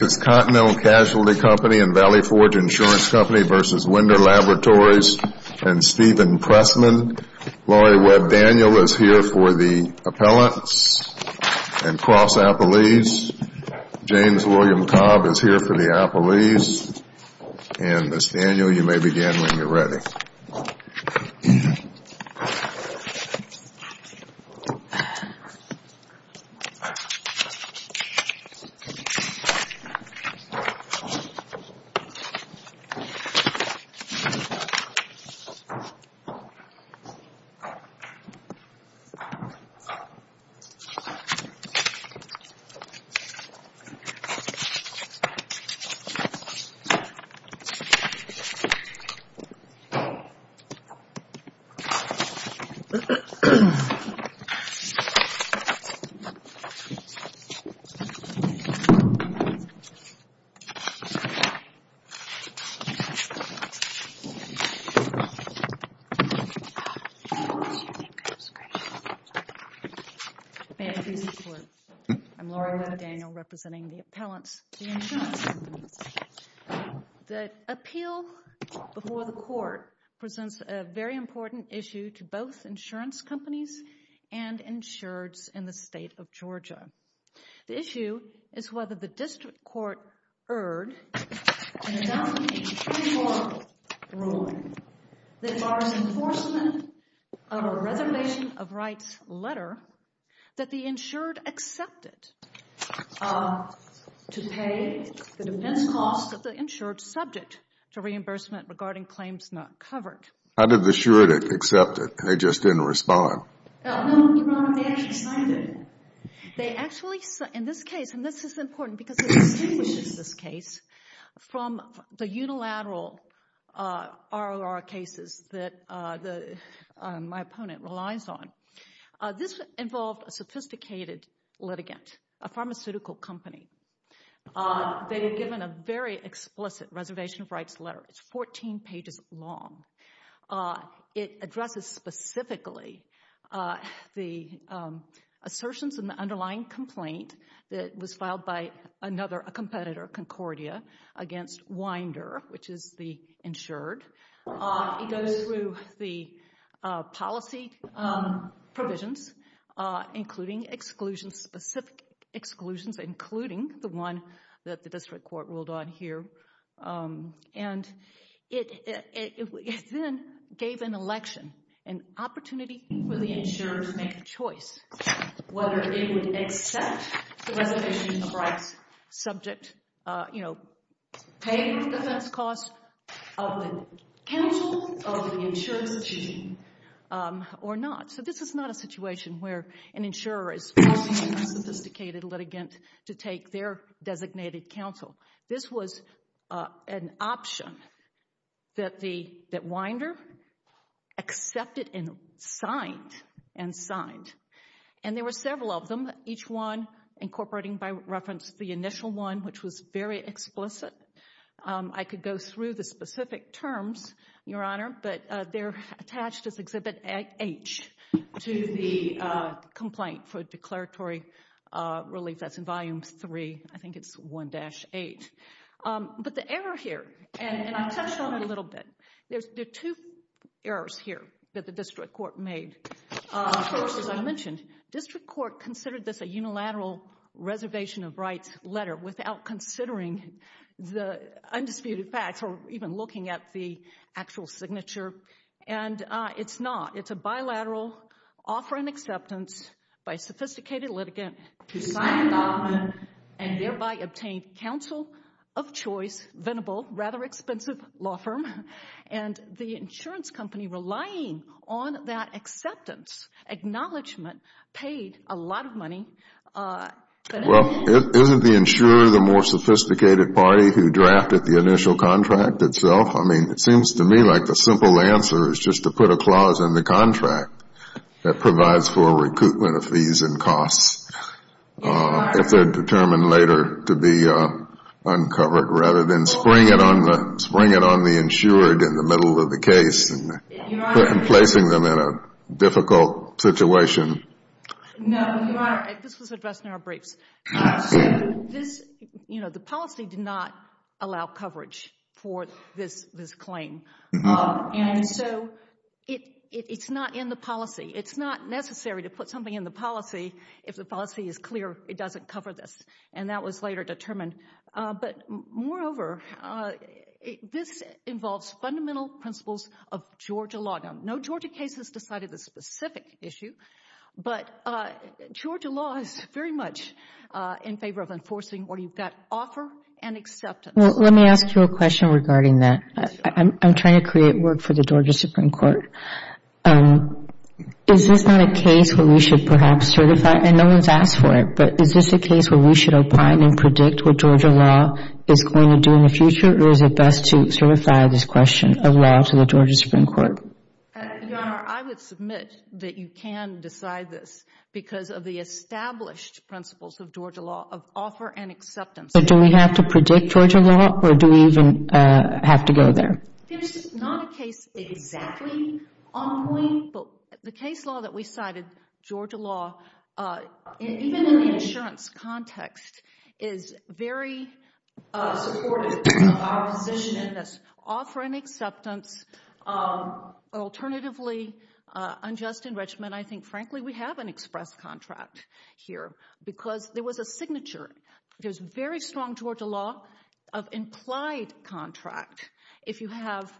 This is Continental Casualty Company and Valley Forge Insurance Company v. Winder Laboratories and Stephen Pressman. Laurie Webb Daniel is here for the Appellants and Cross Appellees. James William Cobb is here for the Appellees. And Ms. Daniel, you may begin when you're ready. May I please report, I'm Laurie Webb Daniel representing the Appellants and Cross Companies. The appeal before the court presents a very important issue to both insurance companies and insureds in the state of Georgia. The issue is whether the district court erred in a 2004 ruling that bars enforcement of a reservation of rights letter that the insured accepted to pay the defense cost of the insured subject to reimbursement regarding claims not covered. How did the insured accept it? They just didn't respond. No, Your Honor, they actually signed it. They actually, in this case, and this is important because it distinguishes this case from the one it relies on, this involved a sophisticated litigant, a pharmaceutical company. They were given a very explicit reservation of rights letter. It's 14 pages long. It addresses specifically the assertions in the underlying complaint that was filed by another competitor, Concordia, against Winder, which is the insured. It goes through the policy provisions, including exclusions, specific exclusions, including the one that the district court ruled on here. And it then gave an election, an opportunity for the insured to make a choice whether they counsel of the insured's team or not. So this is not a situation where an insurer is asking a sophisticated litigant to take their designated counsel. This was an option that Winder accepted and signed and signed. And there were several of them, each one incorporating by reference the initial one, which was very explicit. I could go through the specific terms, Your Honor, but they're attached as Exhibit H to the complaint for declaratory relief. That's in Volume 3, I think it's 1-8. But the error here, and I touched on it a little bit, there are two errors here that the district court made. First, as I mentioned, district court considered this a unilateral reservation of rights letter without considering the undisputed facts or even looking at the actual signature. And it's not. It's a bilateral offer and acceptance by a sophisticated litigant to sign the document and thereby obtain counsel of choice, venerable, rather expensive law firm. And the insurance company relying on that acceptance, acknowledgment, paid a lot of money. Well, isn't the insurer the more sophisticated party who drafted the initial contract itself? I mean, it seems to me like the simple answer is just to put a clause in the contract that provides for recoupment of fees and costs if they're determined later to be uncovered rather than spring it on the insurer in the middle of the case and placing them in a difficult situation. No, Your Honor, this was addressed in our briefs. The policy did not allow coverage for this claim, and so it's not in the policy. It's not necessary to put something in the policy if the policy is clear it doesn't cover this, and that was later determined. But moreover, this involves fundamental principles of Georgia law. No Georgia case has decided this specific issue, but Georgia law is very much in favor of enforcing what you've got to offer and acceptance. Well, let me ask you a question regarding that. I'm trying to create work for the Georgia Supreme Court. Is this not a case where we should perhaps certify, and no one's asked for it, but is this a case where we should opine and predict what Georgia law is going to do in the future, or is it best to certify this question of law to the Georgia Supreme Court? Your Honor, I would submit that you can decide this because of the established principles of Georgia law of offer and acceptance. But do we have to predict Georgia law, or do we even have to go there? There's not a case exactly on point, but the case law that we cited, Georgia law, even in the insurance context, is very supportive of our position in this offer and acceptance. Alternatively, unjust enrichment, I think, frankly, we have an express contract here because there was a signature, there's very strong Georgia law of implied contract. If you have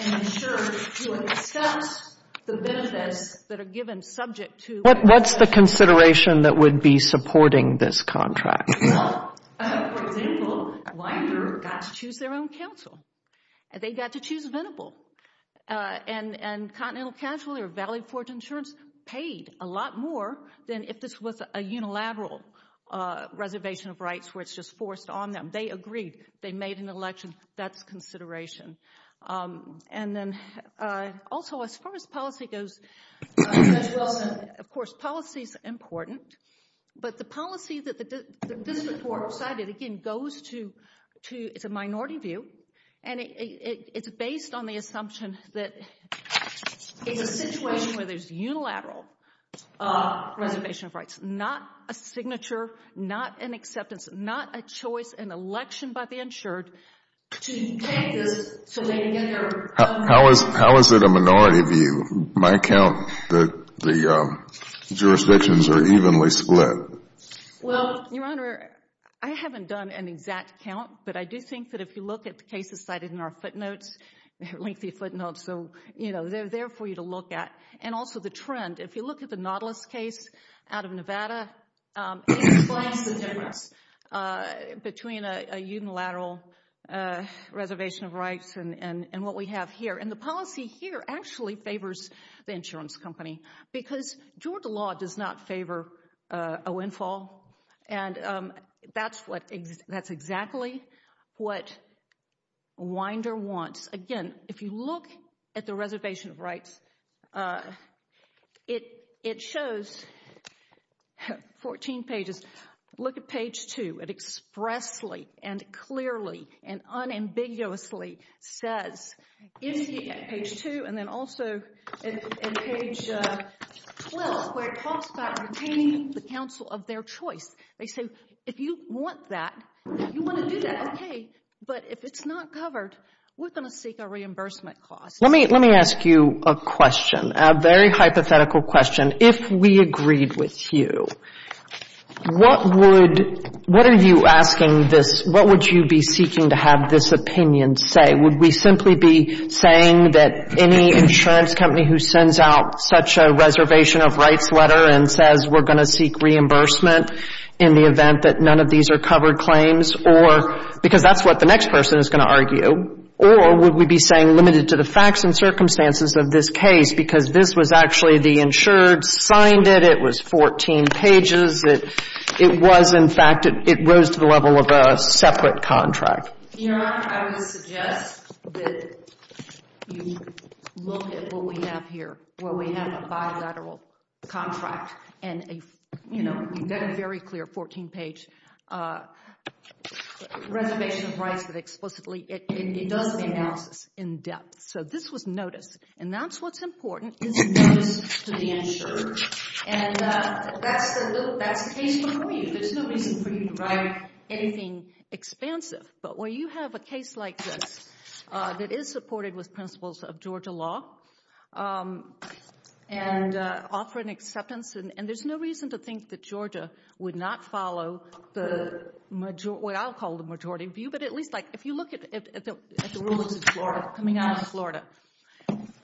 an insurance, you accept the benefits that are given subject to... What's the consideration that would be supporting this contract? Well, for example, Winder got to choose their own counsel. They got to choose Venable. And Continental Casualty or Valley Forge Insurance paid a lot more than if this was a unilateral reservation of rights where it's just forced on them. They agreed. They made an election. That's consideration. And then also, as far as policy goes, Judge Wilson, of course, policy is important. But the policy that this report cited, again, goes to... It's a minority view. And it's based on the assumption that it's a situation where there's unilateral reservation of rights, not a signature, not an acceptance, not a choice, an election by the insured to How is it a minority view? My count, the jurisdictions are evenly split. Well, Your Honor, I haven't done an exact count, but I do think that if you look at the cases cited in our footnotes, lengthy footnotes, so, you know, they're there for you to look at. And also the trend. If you look at the Nautilus case out of Nevada, it explains the difference between a unilateral reservation of rights and what we have here. And the policy here actually favors the insurance company because Georgia law does not favor a windfall. And that's exactly what Winder wants. Again, if you look at the reservation of rights, it shows 14 pages. Look at page 2. It expressly and clearly and unambiguously says, if you get page 2 and then also in page 12 where it talks about retaining the counsel of their choice, they say, if you want that, you want to do that, okay, but if it's not covered, we're going to seek a reimbursement cost. Let me ask you a question, a very hypothetical question. If we agreed with you, what would you be seeking to have this opinion say? Would we simply be saying that any insurance company who sends out such a reservation of rights letter and says we're going to seek reimbursement in the event that none of these are covered claims or because that's what the next person is going to argue, or would we be saying limited to the facts and circumstances of this case because this was actually the insured signed it, it was 14 pages, it was, in fact, it rose to the level of a separate contract? Your Honor, I would suggest that you look at what we have here, where we have a bilateral contract and, you know, we've got a very clear 14-page reservation of rights that explicitly it does the analysis in depth. So this was noticed, and that's what's important, is notice to the insured, and that's the case before you. There's no reason for you to write anything expansive, but where you have a case like this that is supported with principles of Georgia law and offer an acceptance, and there's no reason to think that Georgia would not follow the majority, what I'll call the majority view, but at least, like, if you look at the rulings of Florida, coming out of Florida,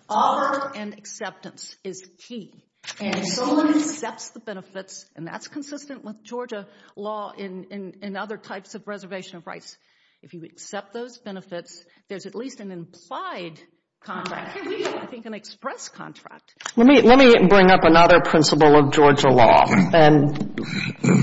offer and acceptance is key, and if someone accepts the benefits, and that's consistent with Georgia law in other types of reservation of rights. If you accept those benefits, there's at least an implied contract, I think an express contract. Let me bring up another principle of Georgia law and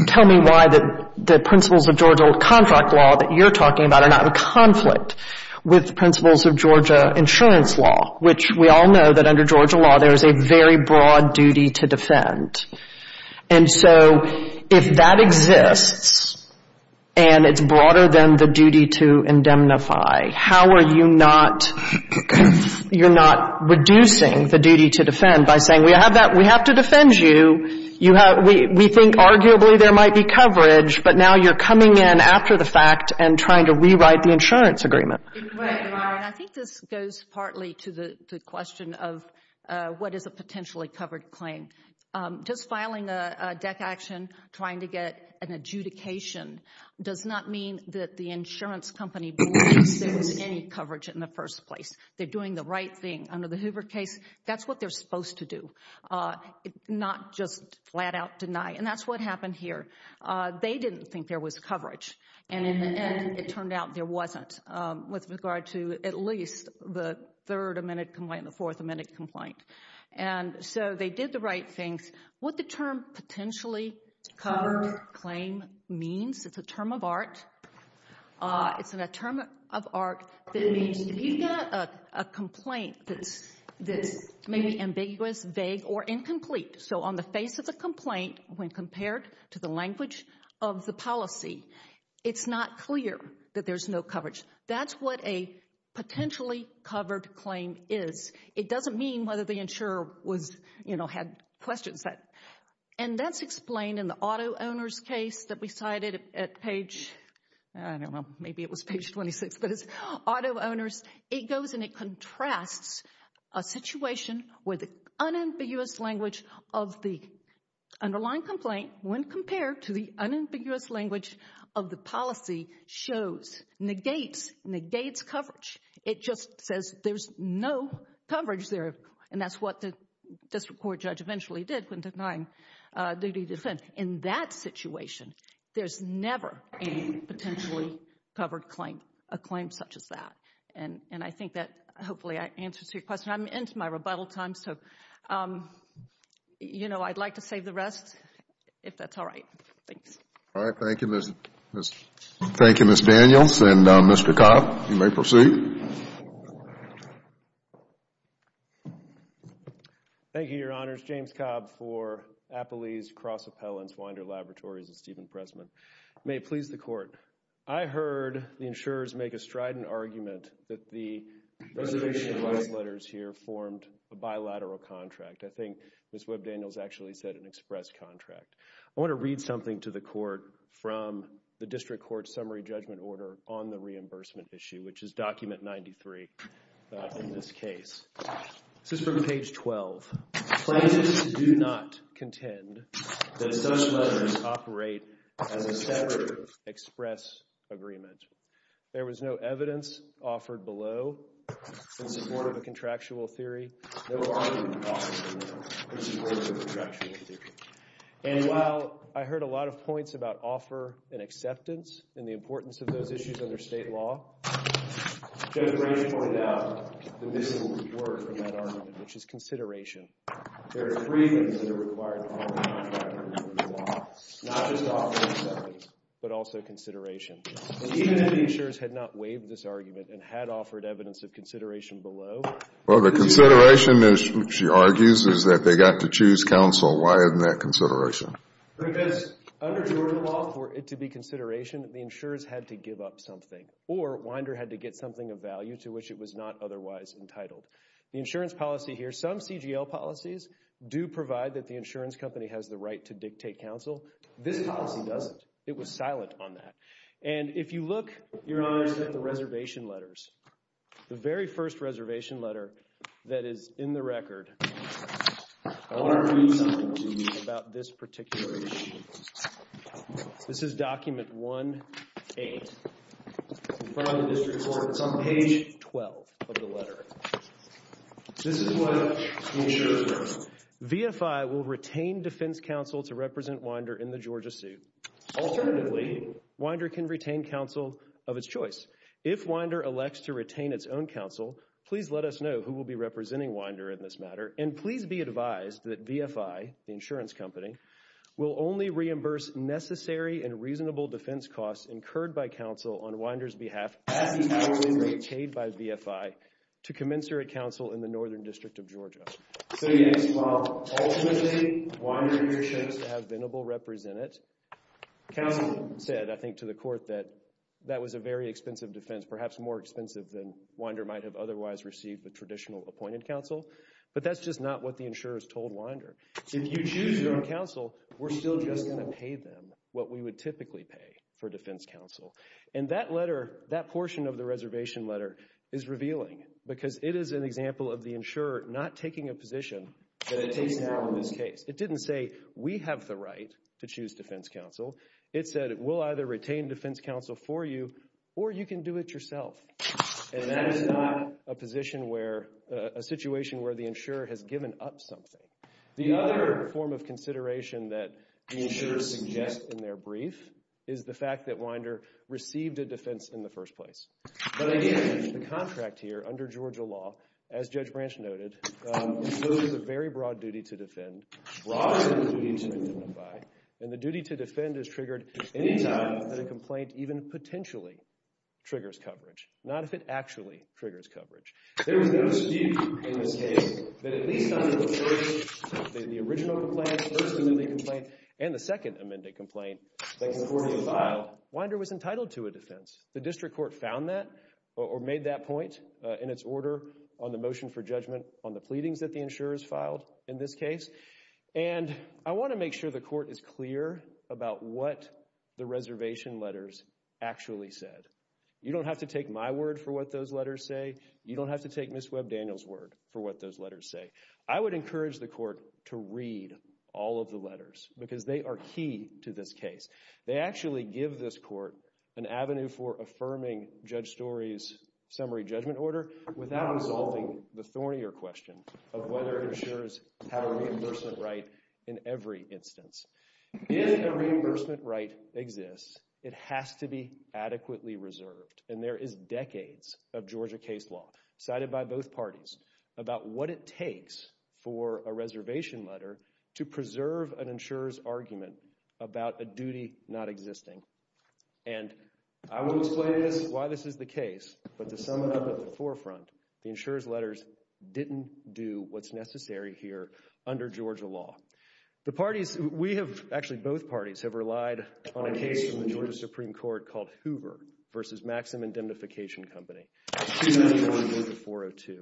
tell me why the principles of Georgia contract law that you're talking about are not in conflict with the principles of Georgia insurance law, which we all know that under Georgia law, there is a very broad duty to defend. And so if that exists, and it's broader than the duty to indemnify, how are you not, you're not reducing the duty to defend by saying we have that, we have to defend you, we think arguably there might be coverage, but now you're coming in after the fact and trying to rewrite the insurance agreement. Right. And I think this goes partly to the question of what is a potentially covered claim. Just filing a DEC action, trying to get an adjudication does not mean that the insurance company believes there was any coverage in the first place. They're doing the right thing. Under the Hoover case, that's what they're supposed to do, not just flat out deny. And that's what happened here. They didn't think there was coverage. And in the end, it turned out there wasn't with regard to at least the third amended complaint and the fourth amended complaint. And so they did the right things. What the term potentially covered claim means, it's a term of art. It's a term of art that means if you've got a complaint that's maybe ambiguous, vague, or incomplete. So on the face of the complaint, when compared to the language of the policy, it's not clear that there's no coverage. That's what a potentially covered claim is. It doesn't mean whether the insurer was, you know, had questions. And that's explained in the auto owners case that we cited at page, I don't know, maybe it was page 26, but it's auto owners. It goes and it contrasts a situation where the unambiguous language of the underlying complaint when compared to the unambiguous language of the policy shows, negates, negates coverage. It just says there's no coverage there. And that's what the district court judge eventually did when denying duty to defend. In that situation, there's never a potentially covered claim, a claim such as that. And I think that hopefully answers your question. I'm into my rebuttal time, so, you know, I'd like to save the rest, if that's all right. Thanks. All right. Thank you, Ms. Daniels. And Mr. Cobb, you may proceed. Thank you, Your Honors. James Cobb for Appelee's Cross-Appellants, Winder Laboratories, and Stephen Pressman. May it please the Court. I heard the insurers make a strident argument that the reservation of last letters here formed a bilateral contract. I think Ms. Webb Daniels actually said an express contract. I want to read something to the Court from the district court summary judgment order on the reimbursement issue, which is document 93 in this case. This is from page 12. Plaintiffs do not contend that such letters operate as a separate express agreement. There was no evidence offered below in support of a contractual theory. No argument offered below in support of a contractual theory. And while I heard a lot of points about offer and acceptance and the importance of those issues under state law, Judge Branche pointed out the missing word from that argument, which is consideration. There are three things that are required to offer a contractual theory law. Not just offer and acceptance, but also consideration. And even if the insurers had not waived this argument and had offered evidence of consideration below, Well, the consideration, she argues, is that they got to choose counsel. Why isn't that consideration? Because under Georgia law, for it to be consideration, the insurers had to give up something, or Winder had to get something of value to which it was not otherwise entitled. The insurance policy here, some CGL policies do provide that the insurance company has the right to dictate counsel. This policy doesn't. It was silent on that. And if you look, Your Honor, at the reservation letters, the very first reservation letter that is in the record, I want to read something to you about this particular issue. This is document 1-8. It's in front of the district court. It's on page 12 of the letter. This is what the insurers wrote. VFI will retain defense counsel to represent Winder in the Georgia suit. Alternatively, Winder can retain counsel of its choice. If Winder elects to retain its own counsel, please let us know who will be representing Winder in this matter, and please be advised that VFI, the insurance company, will only reimburse necessary and reasonable defense costs incurred by counsel on Winder's behalf as these powers have been retained by VFI to commensurate counsel in the Northern District of Georgia. So yes, ultimately, Winder should have been able to represent it. Counsel said, I think, to the court that that was a very expensive defense, perhaps more expensive than Winder might have otherwise received with traditional appointed counsel, but that's just not what the insurers told Winder. If you choose your own counsel, we're still just going to pay them what we would typically pay for defense counsel. And that letter, that portion of the reservation letter, is revealing because it is an example of the insurer not taking a position that it takes to handle this case. It didn't say, we have the right to choose defense counsel. It said, we'll either retain defense counsel for you or you can do it yourself. And that is not a position where, a situation where the insurer has given up something. The other form of consideration that the insurers suggest in their brief is the fact that Winder received a defense in the first place. But again, the contract here under Georgia law, as Judge Branch noted, imposes a very broad duty to defend, broader than the duty to identify, and the duty to defend is triggered anytime that a complaint even potentially triggers coverage. Not if it actually triggers coverage. There is no dispute in this case that at least under the first, the original complaint, first and only complaint, and the second amended complaint that concordantly filed, Winder was entitled to a defense. The district court found that, or made that point in its order on the motion for judgment on the pleadings that the insurers filed in this case. And I want to make sure the court is clear about what the reservation letters actually said. You don't have to take my word for what those letters say. You don't have to take Ms. Webb Daniel's word for what those letters say. I would encourage the court to read all of the letters because they are key to this case. They actually give this court an avenue for affirming Judge Story's summary judgment order without resolving the thornier question of whether insurers have a reimbursement right in every instance. If a reimbursement right exists, it has to be adequately reserved. And there is decades of Georgia case law cited by both parties about what it takes for a reservation letter to preserve an insurer's argument about a duty not existing. And I will explain why this is the case, but to sum it up at the forefront, the insurer's letters didn't do what's necessary here under Georgia law. The parties, we have, actually both parties, have relied on a case from the Georgia Supreme Court called Hoover v. Maxim Indemnification Company, 291-402.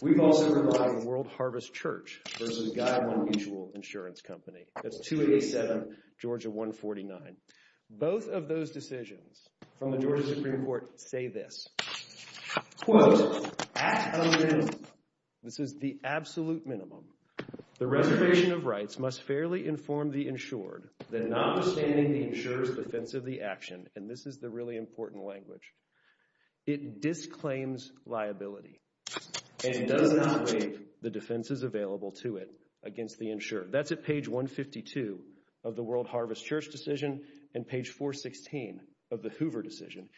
We've also relied on World Harvest Church v. Guideline Mutual Insurance Company, that's 287 Georgia 149. Both of those decisions from the Georgia Supreme Court say this, quote, at a minimum, this is the absolute minimum, the reservation of rights must fairly inform the insured that notwithstanding the insurer's defense of the action, and this is the really important language, it disclaims liability and does not waive the defenses available to it against the insurer. That's at page 152 of the World Harvest Church decision and page 416 of the Hoover decision.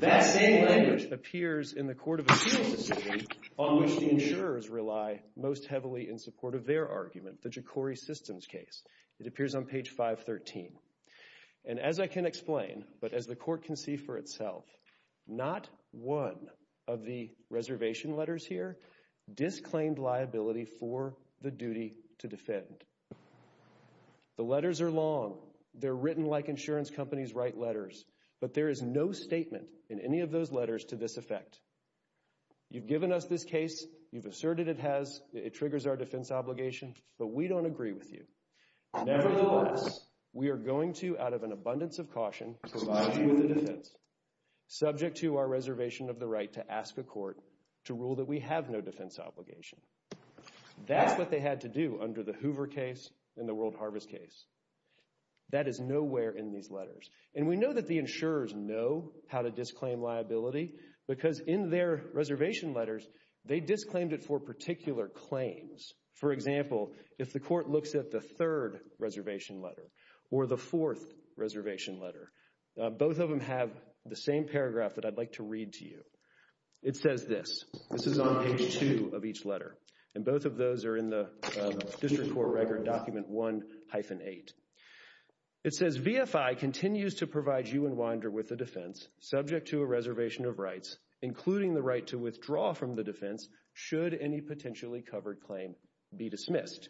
That same language appears in the Court of Appeals decision on which the insurers rely most heavily in support of their argument, the Jokori Systems case. It appears on page 513. And as I can explain, but as the Court can see for itself, not one of the reservation letters here disclaimed liability for the duty to defend. The letters are long, they're written like insurance companies write letters, but there is no statement in any of those letters to this effect. You've given us this case, you've asserted it has, it triggers our defense obligation, but we don't agree with you. Nevertheless, we are going to, out of an abundance of caution, provide you with a defense subject to our reservation of the right to ask a court to rule that we have no defense obligation. That's what they had to do under the Hoover case and the World Harvest case. That is nowhere in these letters. And we know that the insurers know how to disclaim liability because in their reservation letters they disclaimed it for particular claims. For example, if the Court looks at the third reservation letter or the fourth reservation letter, both of them have the same paragraph that I'd like to read to you. It says this. This is on page 2 of each letter. And both of those are in the District Court Record document 1-8. It says, VFI continues to provide you and Winder with a defense subject to a reservation of rights including the right to withdraw from the defense should any potentially covered claim be dismissed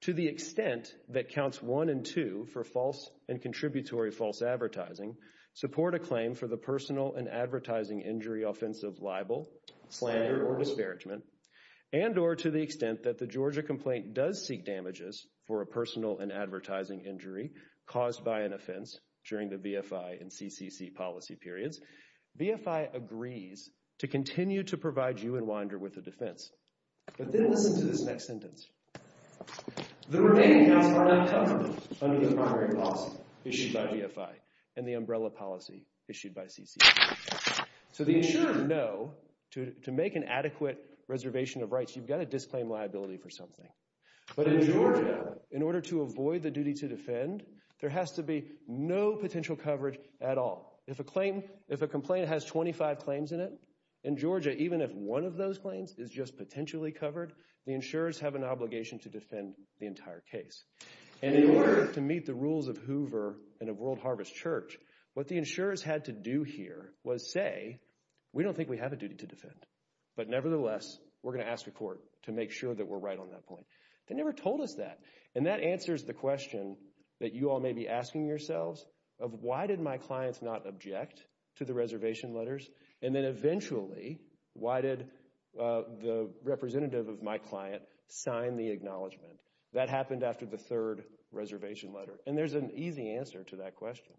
to the extent that counts 1 and 2 for false and contributory false advertising support a claim for the personal and advertising injury offensive libel slander or disparagement and or to the extent that the Georgia complaint does seek damages for a personal and advertising injury caused by an offense during the VFI and CCC policy periods VFI agrees to continue to provide you and Winder with a defense. But then listen to this next sentence. The remaining counts are not covered under the primary policy issued by VFI and the umbrella policy issued by CCC. So the insurers know you've got to disclaim liability for something. But in Georgia, in order to avoid the duty to defend, there has to be no potential coverage at all. If a complaint has 25 claims in it in Georgia, even if one of those claims is just potentially covered, the insurers have an obligation to defend the entire case. And in order to meet the rules of Hoover and of World Harvest Church, what the insurers had to do here was say we don't think we have a duty to defend but nevertheless, we're going to ask the court to make sure that we're right on that point. They never told us that. And that answers the question that you all may be asking yourselves of why did my clients not object to the reservation letters? And then eventually why did the representative of my client sign the acknowledgement? That happened after the third reservation letter. And there's an easy answer to that question.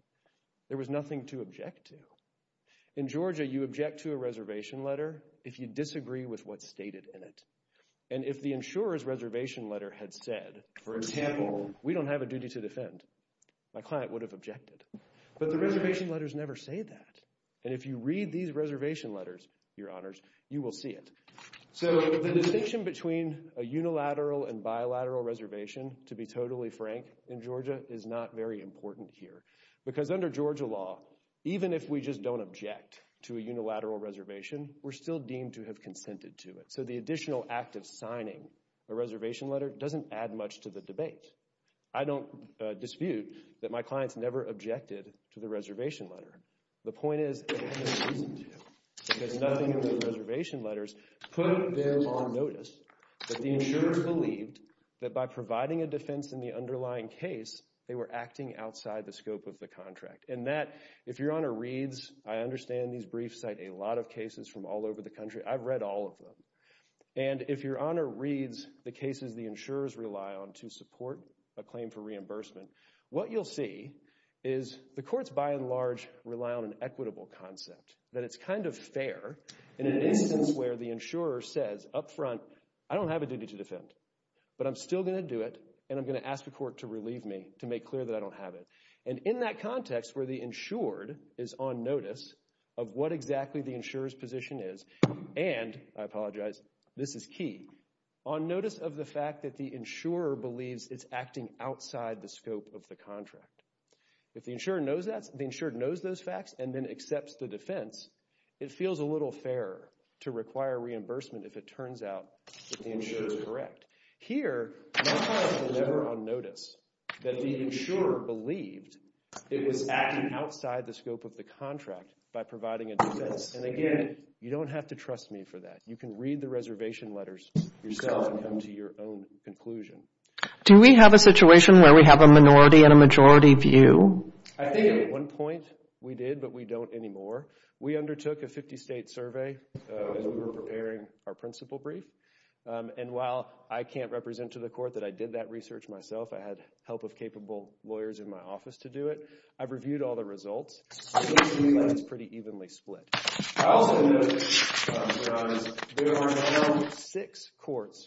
There was nothing to object to. In Georgia, you object to a reservation letter if you disagree with what's stated in it. And if the insurer's reservation letter had said, for example, we don't have a duty to defend, my client would have objected. But the reservation letters never say that. And if you read these reservation letters, your honors, you will see it. So the distinction between a unilateral and bilateral reservation to be totally frank in Georgia is not very important here because under Georgia law, even if we just don't object to a unilateral reservation, we're still deemed to have a duty to defend. So the fact of signing a reservation letter doesn't add much to the debate. I don't dispute that my clients never objected to the reservation letter. The point is, they had no reason to because nothing in the reservation letters put them on notice. But the insurers believed that by providing a defense in the underlying case, they were acting outside the scope of the contract. And that, if your honor reads, I understand these briefs cite a lot of cases from all over the country. I've read all of them. And if your honor reads the cases the insurers rely on to support a claim for reimbursement, what you'll see is the courts, by and large, rely on an equitable concept, that it's kind of fair in an instance where the insurer says up front, I don't have a duty to defend, but I'm still going to do it, and I'm going to ask the court to relieve me, to make clear that I don't have it. And in that context where the insured is on notice of what exactly the insurer's position is, and, I apologize, this is key, on notice of the fact that the insurer believes it's acting outside the scope of the contract. If the insured knows those facts and then accepts the defense, it feels a little fairer to require reimbursement if it turns out that the insurer is correct. Here, my client was never on notice that the insurer believed it was acting outside the scope of the contract by providing a defense. And again, you don't have to trust me for that. You can read the reservation letters yourself and come to your own conclusion. Do we have a situation where we have a minority and a majority view? I think at one point, we did, but we don't anymore. We undertook a 50-state survey as we were preparing our principal brief, and while I can't represent to the court that I did that research myself, I had help of capable lawyers in my office to do it. I've reviewed all the results. I think the line is pretty evenly split. I also note, there are now six courts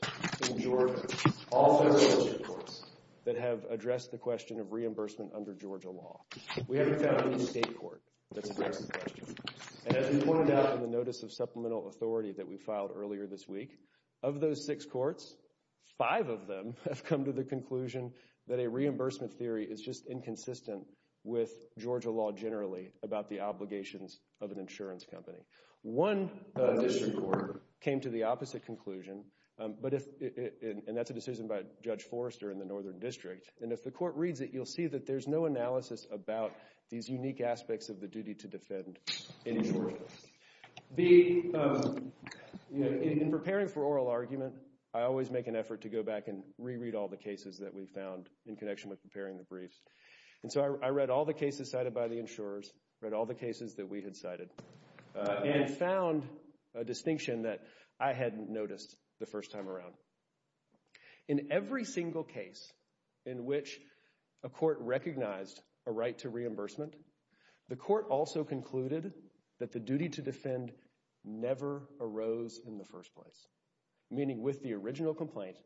in Georgia, all federal courts, that have addressed the question of reimbursement under Georgia law. We haven't found any state court that's addressed the question. And as we pointed out in the notice of supplemental authority that we filed earlier this week, of those six courts, five of them have come to the conclusion that a reimbursement theory is just inconsistent with Georgia law generally about the obligations of an insurance company. One district court came to the opposite conclusion, and that's a decision by Judge Forrester in the Northern District, and if the court reads it, you'll see that there's no analysis about these unique aspects of the duty to defend in Georgia. In preparing for oral argument, I always make an effort to go around in connection with preparing the briefs, and so I read all the cases cited by the insurers, read all the cases that we had cited, and found a distinction that I hadn't noticed the first time around. In every single case in which a court recognized a right to reimbursement, the court also concluded that the duty to defend never arose in the first place, meaning with the original complaint,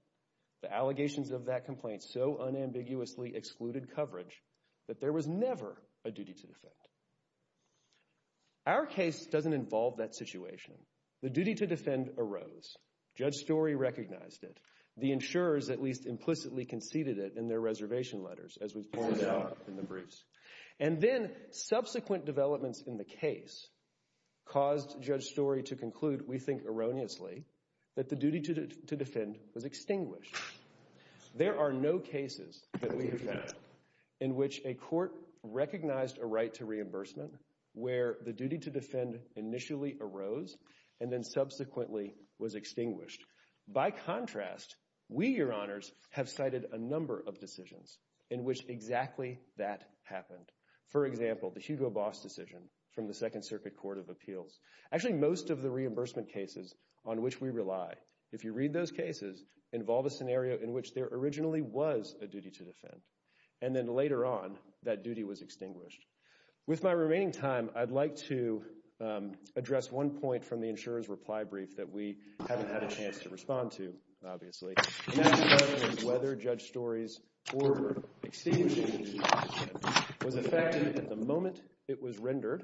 the allegations of that complaint so unambiguously excluded coverage that there was never a duty to defend. Our case doesn't involve that situation. The duty to defend arose. Judge Storey recognized it. The insurers at least implicitly conceded it in their reservation letters as we've pointed out in the briefs. And then, subsequent developments in the case caused Judge Storey to conclude, we think erroneously, that the duty to defend was extinguished. There are no cases that we have found in which a court recognized a right to reimbursement where the duty to defend initially arose and then subsequently was extinguished. By contrast, we, Your Honors, have cited a number of decisions in which exactly that happened. For example, the Hugo Boss decision from the Second Circuit Court of Appeals. Actually, most of the reimbursement cases on which we rely, if you read those cases, involve a scenario in which there originally was a duty to defend. And then later on, that duty was extinguished. With my remaining time, I'd like to address one point from the insurer's reply brief that we haven't had a chance to respond to, obviously. And that question is whether Judge Storey's order extinguishing the duty to defend was effective at the moment it was rendered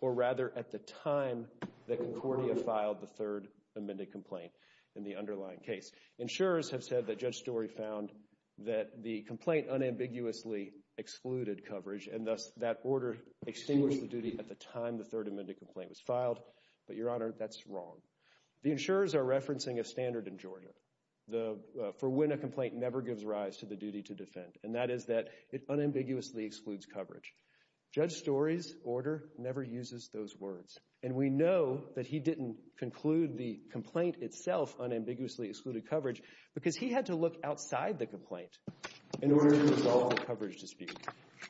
or rather at the time that Concordia filed the third amended complaint in the underlying case. Insurers have said that Judge Storey found that the complaint unambiguously excluded coverage and thus that order extinguished the duty at the time the third amended complaint was filed. But, Your Honor, that's wrong. The insurers are referencing a standard in Georgia for when a complaint never gives rise to the duty to defend. And that is that it unambiguously excludes coverage. Judge Storey's order never uses those words. And we know that he didn't conclude the complaint itself unambiguously excluded coverage because he had to look outside the complaint in order to resolve the coverage dispute.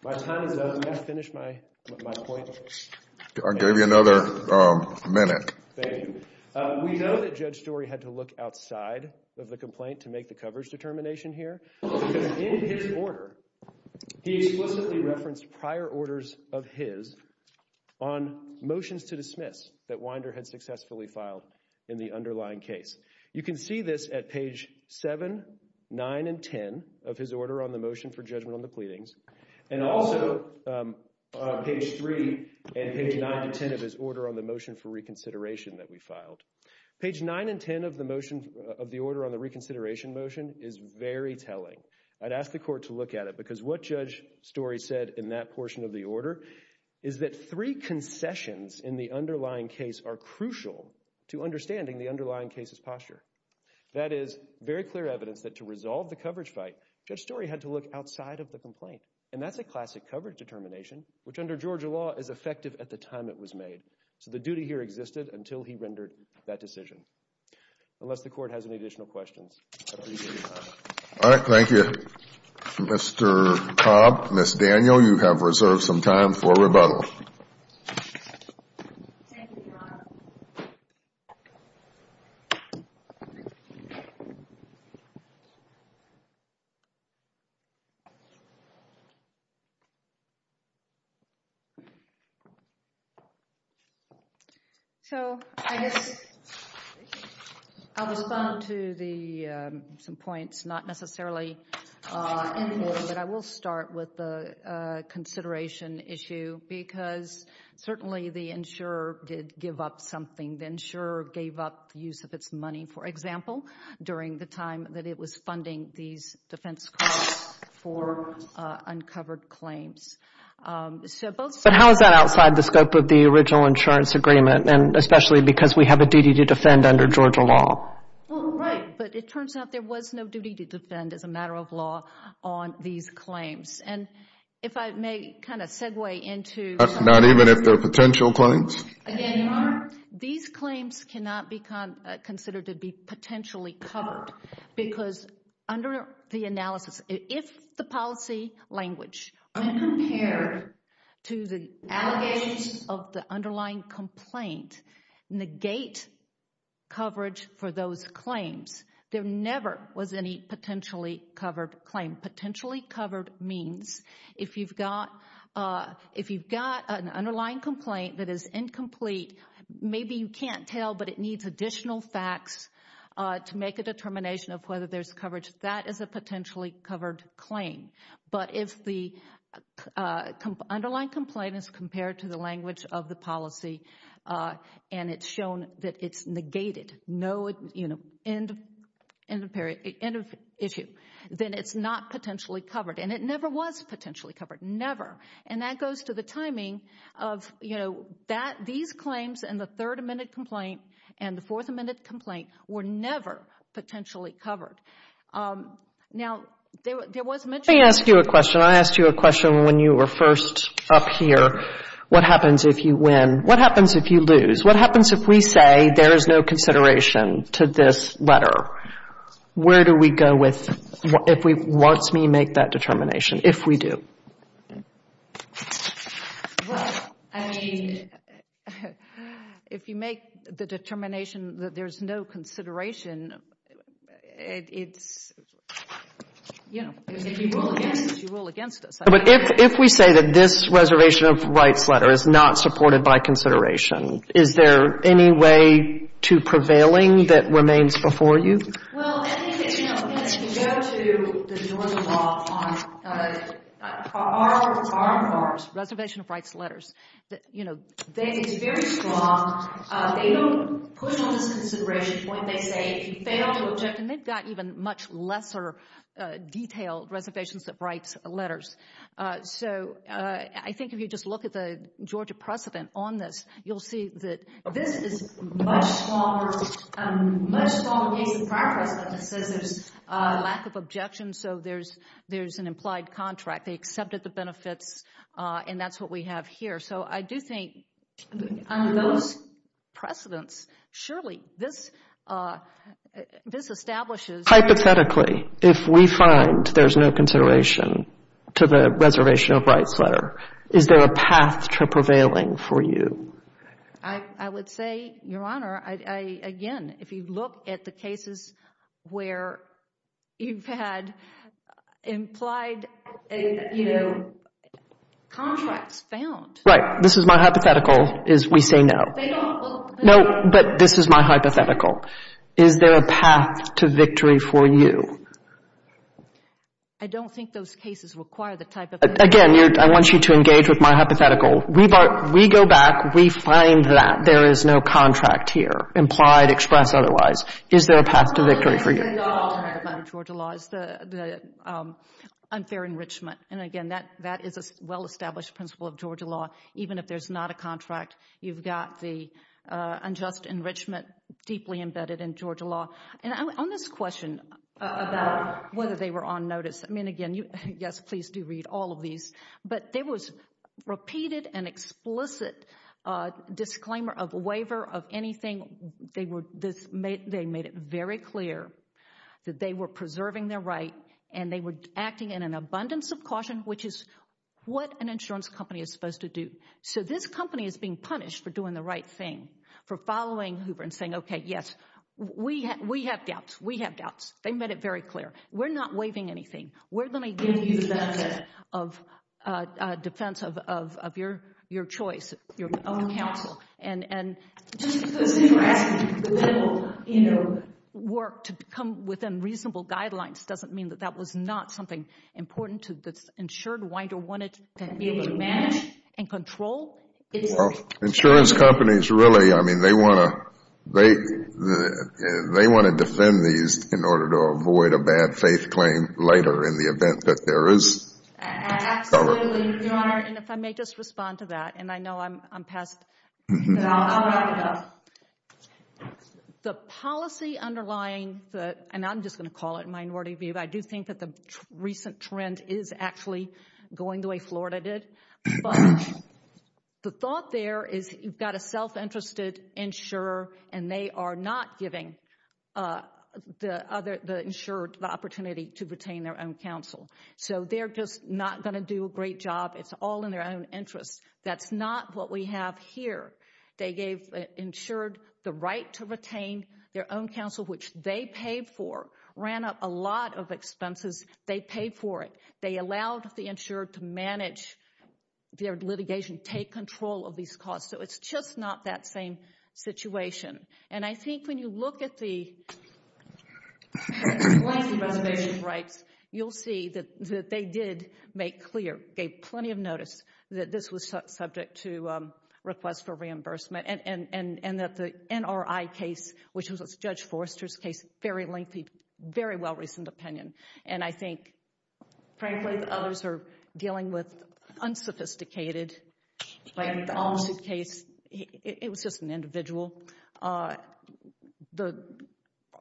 My time is up. May I finish my point? I gave you another minute. Thank you. We know that Judge Storey had to look outside of the complaint to make the coverage determination here because in his order he explicitly referenced prior orders of his on motions to dismiss that Winder had successfully filed in the underlying case. You can see this at page 7, 9, and 10 of his order on the motion for judgment on the pleadings. And also, page 3 and page 9 to 10 of his order on the motion for reconsideration that we filed. Page 9 and 10 of the order on the reconsideration motion is very telling. I'd ask the court to look at it because what Judge Storey said in that portion of the order is that three concessions in the underlying case are crucial to understanding the underlying case's posture. That is very clear evidence that to resolve the coverage fight, Judge Storey had to look outside of the complaint. And that's a classic coverage determination, which under Georgia law is effective at the time it was made. So the duty here existed until he rendered that decision. Unless the court has any additional questions, I appreciate your time. Alright, thank you. Mr. Cobb, Ms. Daniel, you have reserved some time for rebuttal. So, I guess I'll respond to some points not necessarily in the order, but I will start with the consideration issue because certainly the insurer did give up something. The insurer gave up use of its money, for example, during the time that it was funding these defense costs for uncovered claims. But how is that outside the scope of the original insurance agreement, especially because we have a duty to defend under Georgia law? Well, right, but it turns out there was no duty to defend as a matter of law on these claims. And if I may kind of segue into Not even if they're potential claims? Again, Your Honor, these claims cannot be considered to be potentially covered because under the analysis, if the policy language when compared to the allegations of the underlying complaint negate coverage for those claims, there never was any potentially covered claim. Potentially covered means if you've got an underlying complaint that is incomplete, maybe you can't tell, but it needs additional facts to make a determination of whether there's coverage, that is a potentially covered claim. But if the underlying complaint is compared to the language of the policy and it's shown that it's negated, no, you know, end of issue, then it's not potentially covered. And it never was potentially covered. Never. And that goes to the timing of, you know, these claims and the third amended complaint and the fourth amended complaint were never potentially covered. Now, there was mention of Let me ask you a question. I asked you a question when you were first up here. What happens if you win? What happens if you lose? What happens if we say there is no consideration to this letter? Where do we go with if we want to make that determination, if we do? Well, I mean, if you make the determination that there's no consideration, it's, you know, you rule against us. But if we say that this Reservation of Rights letter is not supported by consideration, is there any way to prevailing that remains before you? Well, I think it's, you know, if you go to the Georgia law on our Reservation of Rights letters, you know, it's very strong. They don't push on this consideration when they say if you fail to object, and they've got even much lesser detailed Reservations of Rights letters. So, I think if you just look at the Georgia precedent on this, you'll see that this is much smaller, much smaller case than our precedent that says there's a lack of objection so there's an implied contract. They accepted the benefits and that's what we have here. So I do think under those precedents, surely this establishes... consideration to the Reservation of Rights letter. Is there a path to prevailing for you? I would say, Your Honor, I, again, if you look at the cases where you've had implied, you know, contracts found. Right. This is my hypothetical, is we say no. They don't. No, but this is my hypothetical. Is there a path to victory for you? I don't think those cases require the type of... Again, I want you to engage with my hypothetical. We go back, we find that there is no contract here, implied, express, otherwise. Is there a path to victory for you? Georgia law is the unfair enrichment and again, that is a well established principle of Georgia law. Even if there's not a contract, you've got the unjust enrichment deeply embedded in Georgia law. On this question about whether they were on notice, I mean, again, yes, please do read all of these, but there was repeated and explicit disclaimer of waiver of anything. They made it very clear that they were preserving their right and they were acting in an abundance of caution, which is what an insurance company is supposed to do. So this company is being punished for doing the right thing, for following Hoover and saying, okay, yes, we have doubts, we have doubts. They made it very clear. We're not waiving anything. We're going to give you the benefit of defense of your choice, your counsel. Just because you're asking for little work to come within reasonable guidelines doesn't mean that that was not something important to this insured winder wanted to be able to manage and control. Insurance companies really, I mean, they want to defend these in order to avoid a bad faith claim later in the event that there is cover. Absolutely, Your Honor, and if I may just respond to that, and I know I'm past I'll wrap it up. The policy underlying the, and I'm just going to call it minority view, but I do think that the recent trend is actually going the way Florida did. But the thought there is you've got a self-interested insurer and they are not giving the insured the opportunity to retain their own counsel. So they're just not going to do a great job. It's all in their own interest. That's not what we have here. They gave the insured the right to retain their own counsel, which they paid for, ran up a lot of expenses. They paid for it. They allowed the insured to manage their litigation, take control of these costs. So it's just not that same situation. I think when you look at the policy reservation rights, you'll see that they did make clear, gave plenty of notice, that this was subject to request for reimbursement, and that the NRI case, which was Judge Forster's case, very lengthy, very well-reasoned opinion. I think, frankly, many of the others are dealing with unsophisticated lawsuit case. It was just an individual. The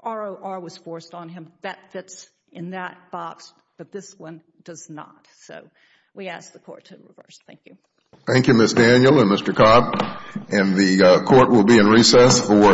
ROR was forced on him. That fits in that box, but this one does not. We ask the Court to reverse. Thank you. Thank you, Ms. Daniel and Mr. Cobb. The Court will be in recess for 15 minutes. Thank you.